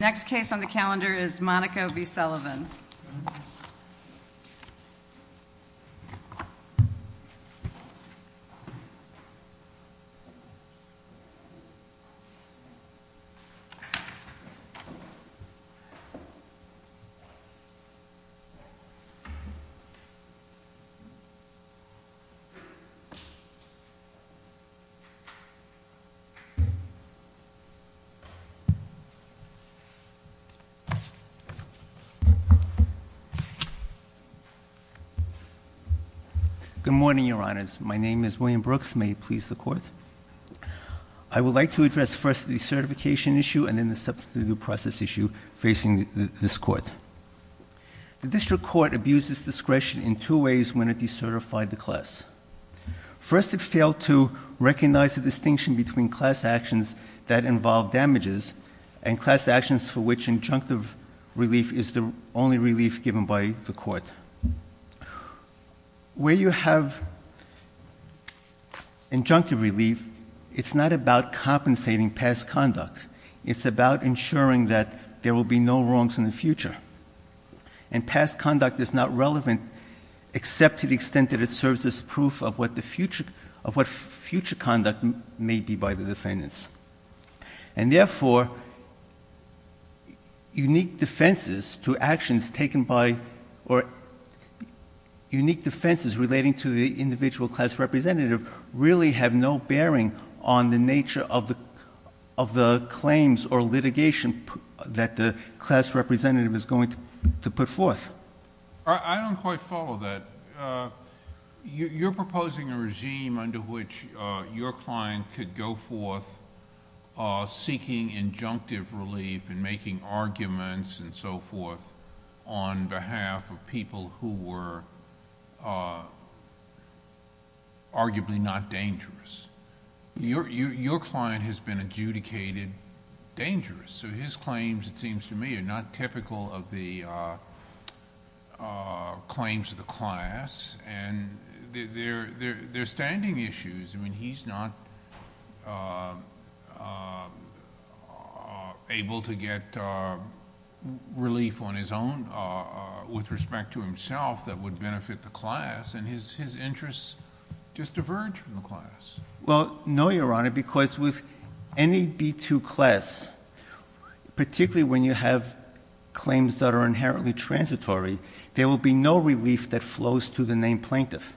Next case on the calendar is Monaco v. Sullivan. William Brooks Good morning, Your Honors. My name is William Brooks. May it please the Court? I would like to address first the decertification issue and then the substitute process issue facing this Court. The District Court abused its discretion in two ways when it decertified the class. First it failed to recognize the distinction between class actions that involve damages and class actions for which injunctive relief is the only relief given by the Court. Where you have injunctive relief, it's not about compensating past conduct. It's about ensuring that there will be no wrongs in the future. And past conduct is not relevant except to the extent that it serves as proof of what future conduct may be by the defendants. And therefore, unique defenses relating to the individual class representative really have no bearing on the nature of the claims or litigation that the class representative is going to put forth. I don't quite follow that. You're proposing a regime under which your client could go forth seeking injunctive relief and making arguments and so forth on behalf of people who were arguably not dangerous. Your client has been adjudicated dangerous. His claims it seems to me are not typical of the claims of the class. They're standing issues. He's not able to get relief on his own with respect to himself that would benefit the class. And his interests just diverge from the class. Well, no, Your Honor, because with any B-2 class, particularly when you have claims that are inherently transitory, there will be no relief that flows to the named plaintiff.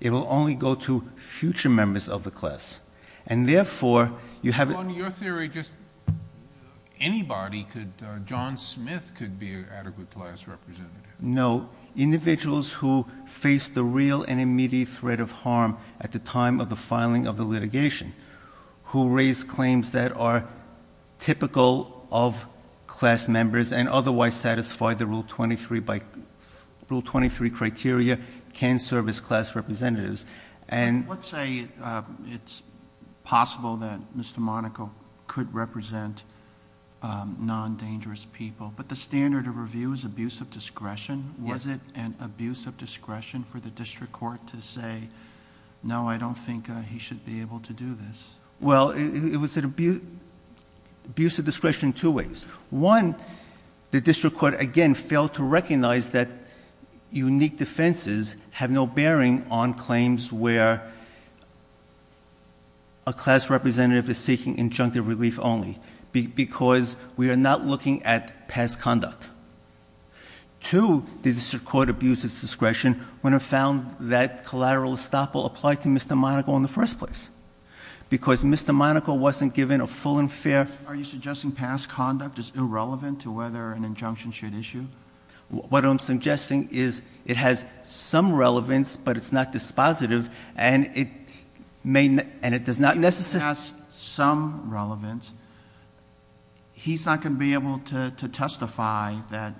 It will only go to future members of the class. And therefore, you have Your Honor, in your theory, just anybody could, John Smith could be an adequate class representative. No. Individuals who face the real and immediate threat of harm at the time of the filing of the litigation, who raise claims that are typical of class members and otherwise satisfy the Rule 23 criteria, can serve as class representatives. Let's say it's possible that Mr. Monaco could represent non-dangerous people, but the standard of review is abuse of discretion. Was it an abuse of discretion for the district court to say, no, I don't think he should be able to do this? Well, it was an abuse of discretion in two ways. One, the district court, again, failed to recognize that unique defenses have no bearing on claims where a class representative is seeking injunctive relief only, because we are not looking at past conduct. Two, the district court abused its discretion when it found that collateral estoppel applied to Mr. Monaco in the first place, because Mr. Monaco wasn't given a full and fair Are you suggesting past conduct is irrelevant to whether an injunction should issue? What I'm suggesting is it has some relevance, but it's not dispositive, and it does not necessarily It has some relevance. He's not going to be able to testify that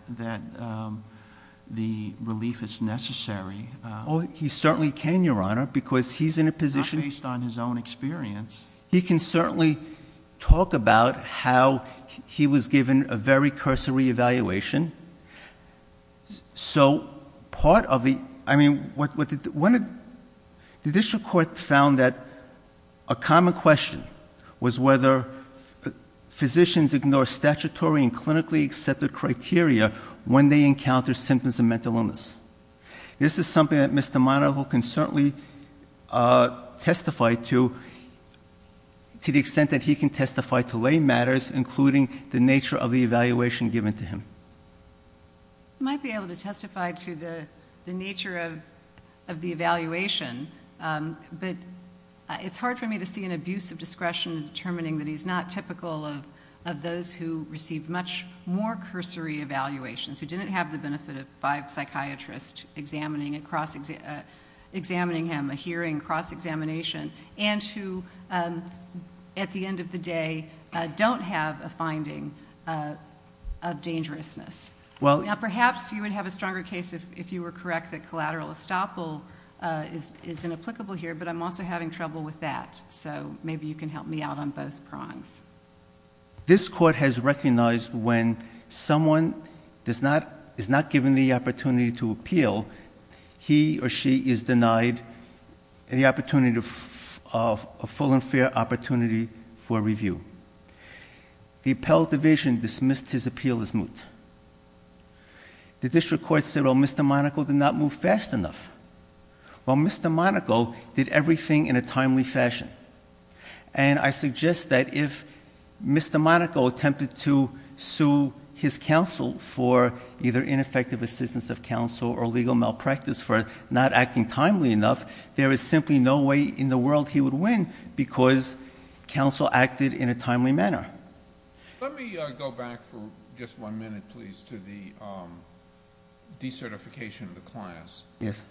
the relief is necessary. He certainly can, Your Honor, because he's in a position Not based on his own experience He can certainly talk about how he was given a very cursory evaluation. The district court found that a common question was whether physicians ignore statutory and clinically accepted criteria when they encounter symptoms of mental illness. This is something that Mr. Monaco can certainly testify to, to the extent that he can testify to lay matters, including the nature of the evaluation given to him. He might be able to testify to the nature of the evaluation, but it's hard for me to see an abuse of discretion in determining that he's not typical of those who receive much more cursory evaluations, who didn't have the benefit of five psychiatrists examining him, a hearing, cross-examination, and who, at the end of the day, don't have a finding of dangerousness. Perhaps you would have a stronger case if you were correct that collateral estoppel is inapplicable here, but I'm also having trouble with that, so maybe you can help me out on both prongs. This court has recognized when someone is not given the opportunity to appeal, he or she is denied the opportunity, a full and fair opportunity for review. The appellate division dismissed his appeal as moot. The district court said, well, Mr. Monaco did not move fast enough. Well, Mr. Monaco did everything in a timely fashion, and I suggest that if Mr. Monaco attempted to sue his counsel for either ineffective assistance of counsel or legal malpractice for not acting timely enough, there is simply no way in the world he would win because counsel acted in a timely manner. Let me go back for just one minute, please, to the decertification of the class. Yes.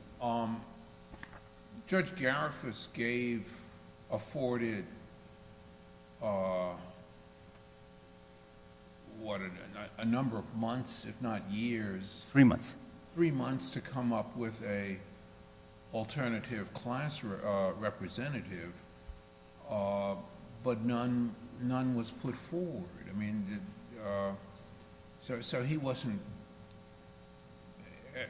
Judge Garifuss gave afforded, what, a number of months, if not years... Three months. Three months to come up with an alternative class representative, but none was put forward. I mean, so he wasn't,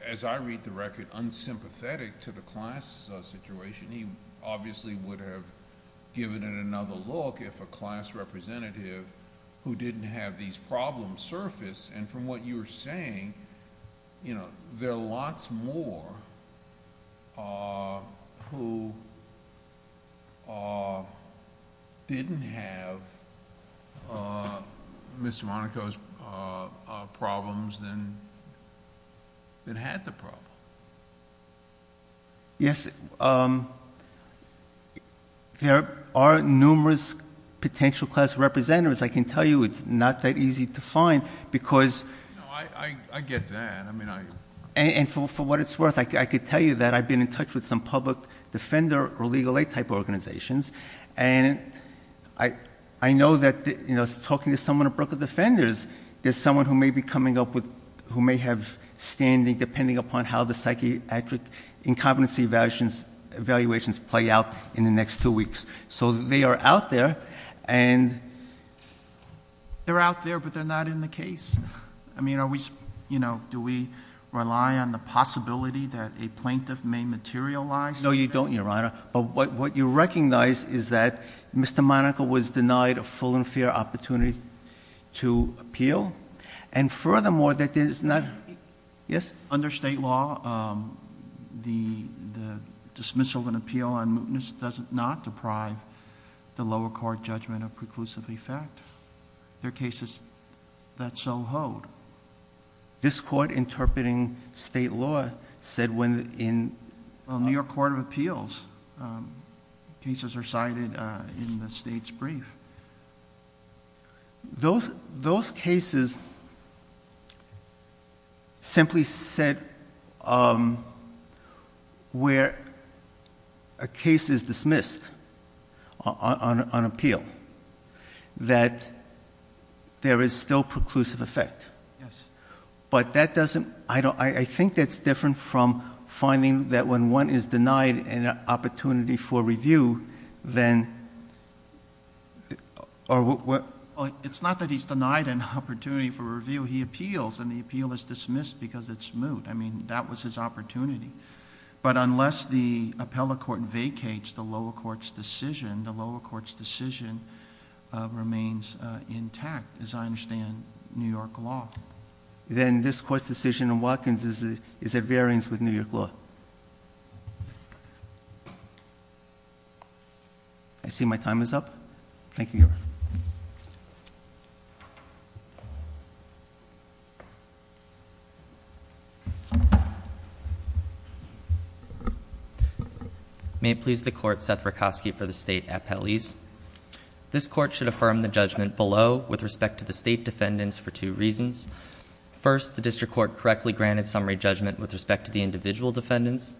as I read the record, unsympathetic to the class situation. He obviously would have given it another look if a class representative who didn't have these problems surfaced, and from what you're saying, there are lots more who didn't have a class representative for Mr. Monaco's problems than had the problem. Yes. There are numerous potential class representatives. I can tell you it's not that easy to find because... No, I get that. I mean, I... For what it's worth, I could tell you that I've been in touch with some public defender or legal aid type organizations, and I know that, you know, talking to someone at Brookwood Defenders, there's someone who may be coming up with... who may have standing, depending upon how the psychiatric incompetency evaluations play out in the next two weeks. So they are out there, and... They're out there, but they're not in the case. I mean, are we... you know, do we rely on the possibility that a plaintiff may materialize... No, you don't, Your Honor. But what you recognize is that Mr. Monaco was denied a full and fair opportunity to appeal, and furthermore, that there is not... Yes? Under state law, the dismissal and appeal on mootness does not deprive the lower court judgment of preclusive effect. There are cases that so hold. This court interpreting state law said when in... Well, in the New York Court of Appeals, cases are cited in the state's brief. Those cases simply said where a case is dismissed on appeal, that there is still preclusive effect. Yes. But that doesn't... I think that's different from finding that when one is denied an opportunity for review, then... It's not that he's denied an opportunity for review. He appeals, and the appeal is dismissed because it's moot. I mean, that was his opportunity. But unless the appellate court vacates the lower court's decision remains intact, as I understand New York law... Then this court's decision in Watkins is at variance with New York law. I see my time is up. Thank you, Your Honor. May it please the Court, Seth Rakosky for the State Appellees. This Court should affirm the judgment below with respect to the State defendants for two reasons. First, the District Court correctly granted summary judgment with respect to the individual defendants.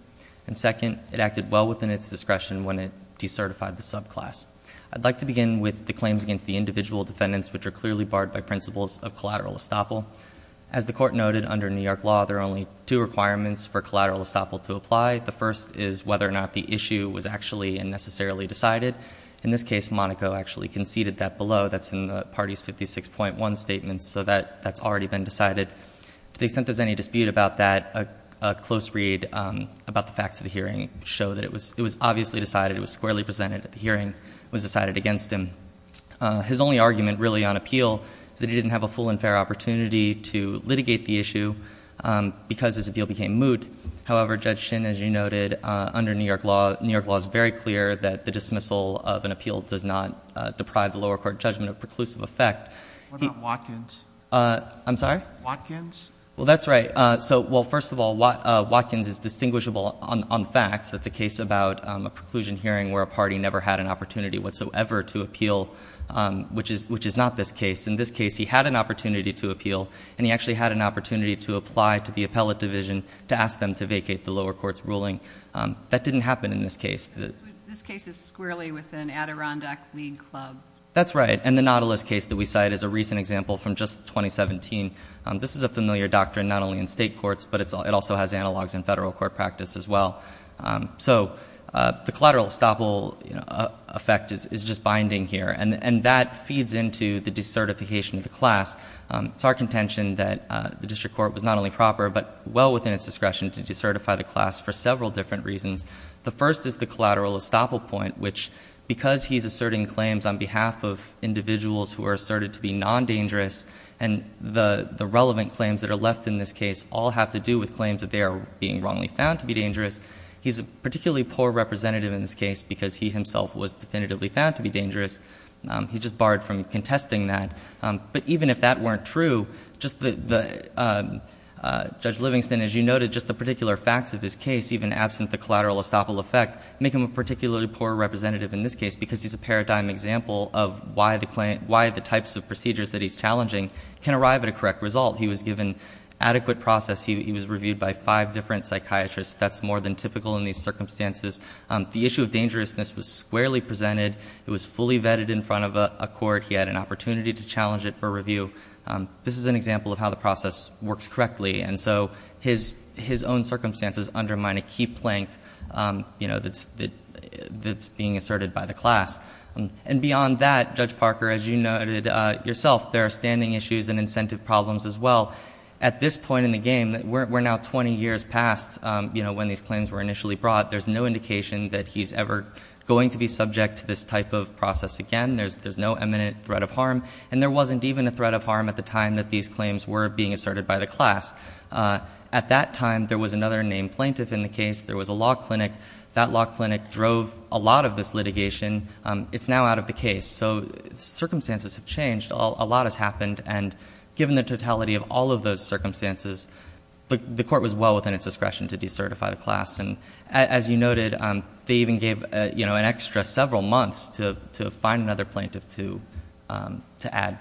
And second, it acted well within its discretion when it decertified the subclass. I'd like to begin with the claims against the individual defendants, which are clearly barred by principles of collateral estoppel. As the Court noted, under New York law, there are only two requirements for collateral estoppel to apply. The first is whether or not the issue was actually and necessarily decided. In this case, Monaco actually conceded that below. That's in the party's 56.1 statement, so that's already been decided. To the extent there's any dispute about that, a close read about the facts of the hearing show that it was obviously decided. It was squarely presented at the hearing. It was only argument, really, on appeal that it didn't have a full and fair opportunity to litigate the issue because its appeal became moot. However, Judge Shin, as you noted, under New York law, New York law is very clear that the dismissal of an appeal does not deprive the lower court judgment of preclusive effect. What about Watkins? I'm sorry? Watkins? Well, that's right. So, well, first of all, Watkins is distinguishable on facts. That's a case about a preclusion hearing where a party never had an opportunity whatsoever to appeal, which is not this case. In this case, he had an opportunity to appeal, and he actually had an opportunity to apply to the appellate division to ask them to vacate the lower court's ruling. That didn't happen in this case. This case is squarely within Adirondack League Club. That's right, and the Nautilus case that we cite is a recent example from just 2017. This is a familiar doctrine not only in state courts, but it also has analogs in federal court practice as well. So the collateral estoppel effect is just binding here, and that feeds into the decertification of the class. It's our contention that the district court was not only proper, but well within its discretion to decertify the class for several different reasons. The first is the collateral estoppel point, which, because he's asserting claims on behalf of individuals who are asserted to be non-dangerous, and the relevant claims that are left in this case all have to do with claims that they are being wrongly found to be dangerous. He's a particularly poor representative in this case because he himself was definitively found to be dangerous. He just barred from contesting that. But even if that weren't true, Judge Livingston, as you noted, just the particular facts of his case, even absent the collateral estoppel effect, make him a particularly poor representative in this case because he's a paradigm example of why the types of procedures that he's challenging can arrive at a correct result. He was given adequate process. He was reviewed by five different psychiatrists. That's more than typical in these circumstances. The issue of dangerousness was squarely presented. It was fully vetted in front of a court. He had an opportunity to challenge it for review. This is an example of how the process works correctly. And so his own circumstances undermine a key plank that's being asserted by the class. And beyond that, Judge Parker, as you noted yourself, there are standing issues and incentive problems as well. At this point in the game, we're now 20 years past when these claims were initially brought. There's no indication that he's ever going to be subject to this type of process again. There's no imminent threat of harm. And there wasn't even a threat of harm at the time that these claims were being asserted by the class. At that time, there was another named plaintiff in the case. There was a law clinic. That law clinic drove a lot of this litigation. It's now out of the case. So circumstances have changed. A lot has happened. And given the totality of all of those circumstances, the court was well within its discretion to decertify the class. And as you noted, they even gave an extra several months to find another plaintiff to add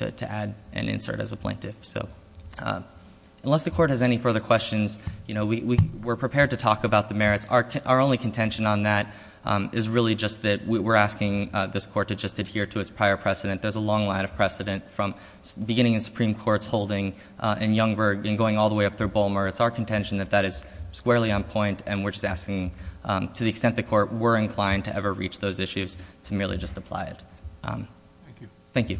and insert as a plaintiff. Unless the court has any further questions, we're prepared to talk about the merits. Our only contention on that is really just that we're asking this court to just adhere to its prior precedent. There's a long line of precedent from beginning in Supreme Court's holding in Youngberg and going all the way up through Bulmer. It's our contention that that is squarely on point. And we're just asking, to the extent the court were inclined to ever reach those issues, to merely just apply it. Thank you.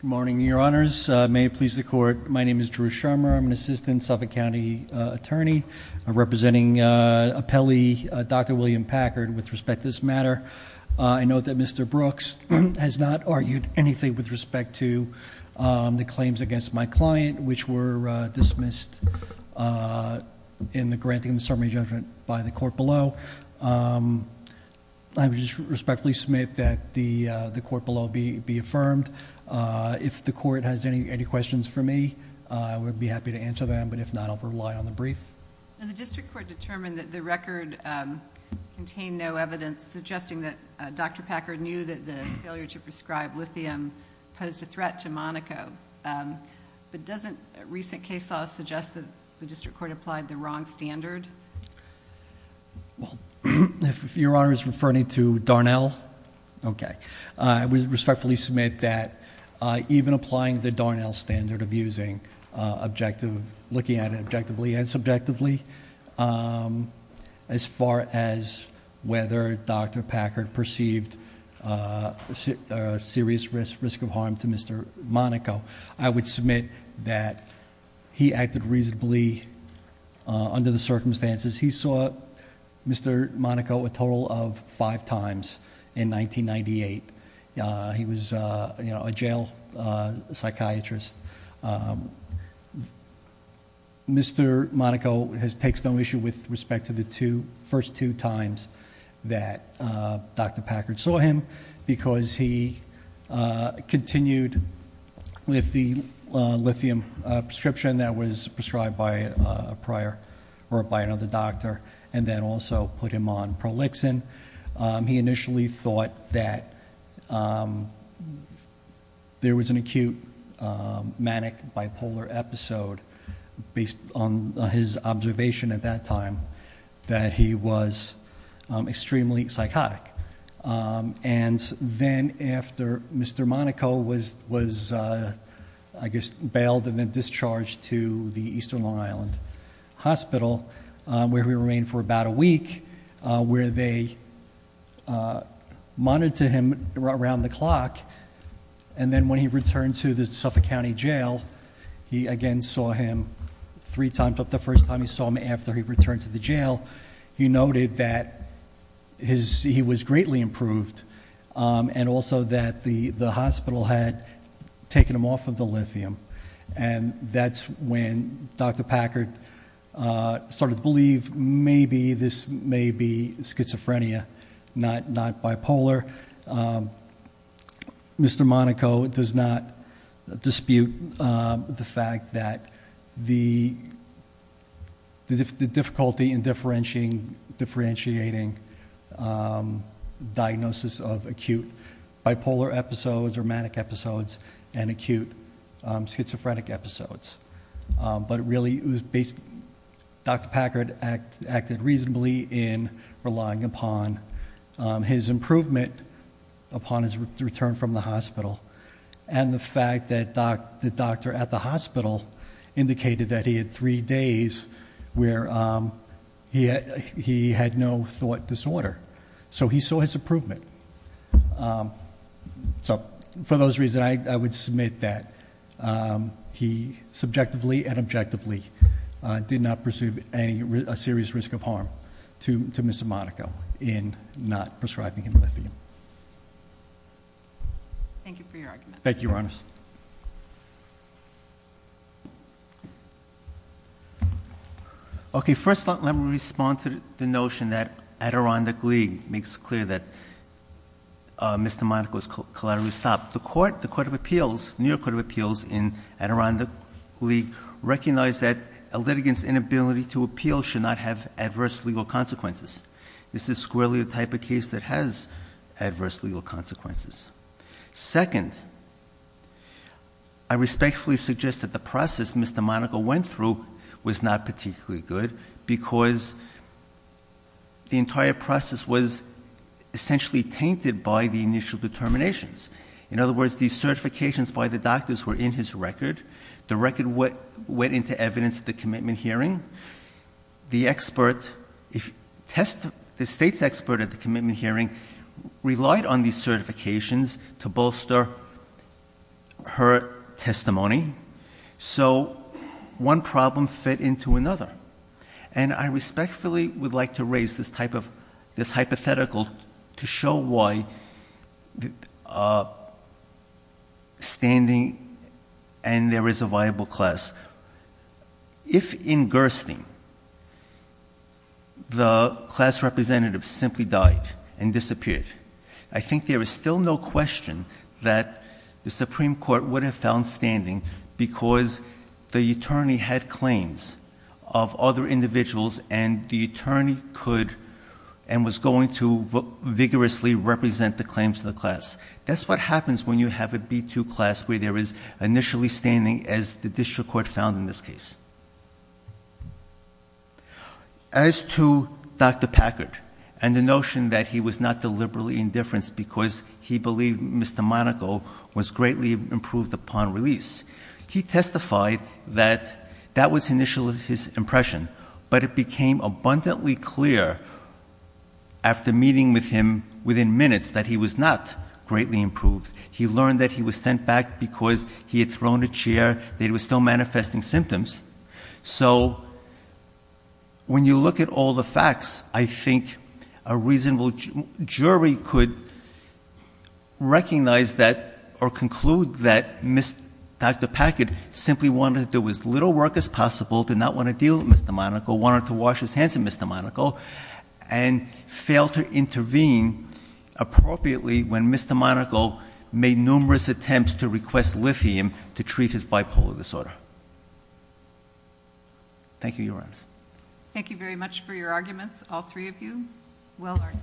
Good morning, your honors. May it please the court, my name is Drew Scharmer. I'm an assistant Suffolk County attorney. I'm representing appellee Dr. William Packard with respect to this matter. I note that Mr. Brooks has not argued anything with respect to the claims against my client, which were dismissed in the granting of the summary judgment by the court below. I would just respectfully submit that the court below be affirmed. If the court has any questions for me, I would be happy to answer them, but if not, I'll rely on the brief. The district court determined that the record contained no evidence suggesting that Dr. Packard prescribed lithium posed a threat to Monaco, but doesn't recent case law suggest that the district court applied the wrong standard? Well, if your honor is referring to Darnell, okay. I would respectfully submit that even applying the Darnell standard of using objective... looking at it objectively and subjectively, as far as whether Dr. Packard perceived a serious risk of harm to Mr. Monaco, I would submit that he acted reasonably under the circumstances. He saw Mr. Monaco a total of five times in 1998. He was a jail psychiatrist. Mr. Monaco has done a great job of taking care of Mr. Monaco. It takes no issue with respect to the first two times that Dr. Packard saw him, because he continued with the lithium prescription that was prescribed by another doctor, and then also put him on prolixin. He initially thought that there was an acute manic bipolar episode, based on his observation at that time, that he was extremely psychotic. And then after Mr. Monaco was, I guess, bailed and then discharged to the Eastern Long Island Hospital, where he remained for about a week, where they monitored to him around the clock, and then when he returned to the Suffolk County Jail, he again saw him three times. The first time he saw him after he returned to the jail, he noted that he was greatly improved, and also that the hospital had taken him off of the lithium. And that's when Dr. Packard started to believe maybe this may be schizophrenia, not bipolar. Mr. Monaco does not dispute the fact that the difficulty in differentiating diagnosis of acute bipolar episodes or manic episodes and acute schizophrenic episodes. But really, Dr. Packard acted reasonably in relying upon his improvement upon his return from the hospital, and the fact that the doctor at the hospital indicated that he had three days where he had no thought disorder. So he saw his improvement. So for those reasons, I would submit that he subjectively and objectively did not pursue a serious risk of harm to Mr. Monaco in not prescribing him lithium. Thank you for your argument. Thank you, Your Honors. Okay, first let me respond to the notion that Adirondack League makes clear that Mr. Monaco was collaterally stopped. The court, the Court of Appeals, the New York Court of Appeals in Adirondack League recognized that a litigant's inability to appeal should not have adverse legal consequences. This is squarely the type of case that has adverse legal consequences. Second, I respectfully suggest that the process Mr. Monaco went through was not particularly good because the entire process was essentially tainted by the initial determination In other words, the certifications by the doctors were in his record. The record went into evidence at the commitment hearing. The state's expert at the commitment hearing relied on these certifications to bolster her testimony. So one problem fit into another. And I respectfully would like to raise this hypothetical to show why standing and there is a viable class, if in Gerstein the class representative simply died and disappeared, I think there is still no question that the Supreme Court would have found standing because the attorney had claims of other individuals and the attorney could and was going to vigorously represent the claims of the class. That's what happens when you have a B2 class where there is initially standing as the district court found in this case. As to Dr. Packard and the notion that he was not deliberately indifference because he believed Mr. Monaco was greatly improved upon release. He testified that that was initially his impression, but it became abundantly clear after meeting with him within minutes that he was not greatly improved. He learned that he was sent back because he had thrown a chair, that he was still manifesting symptoms. So when you look at all the facts, I think a reasonable jury could recognize that or conclude that Dr. Packard simply wanted to do as little work as possible, did not want to deal with Mr. Monaco, wanted to wash his hands of Mr. Monaco and failed to intervene appropriately when Mr. Monaco made numerous attempts to request lithium to treat his bipolar disorder. Thank you, Your Honors. Thank you very much for your arguments. All three of you, well earned.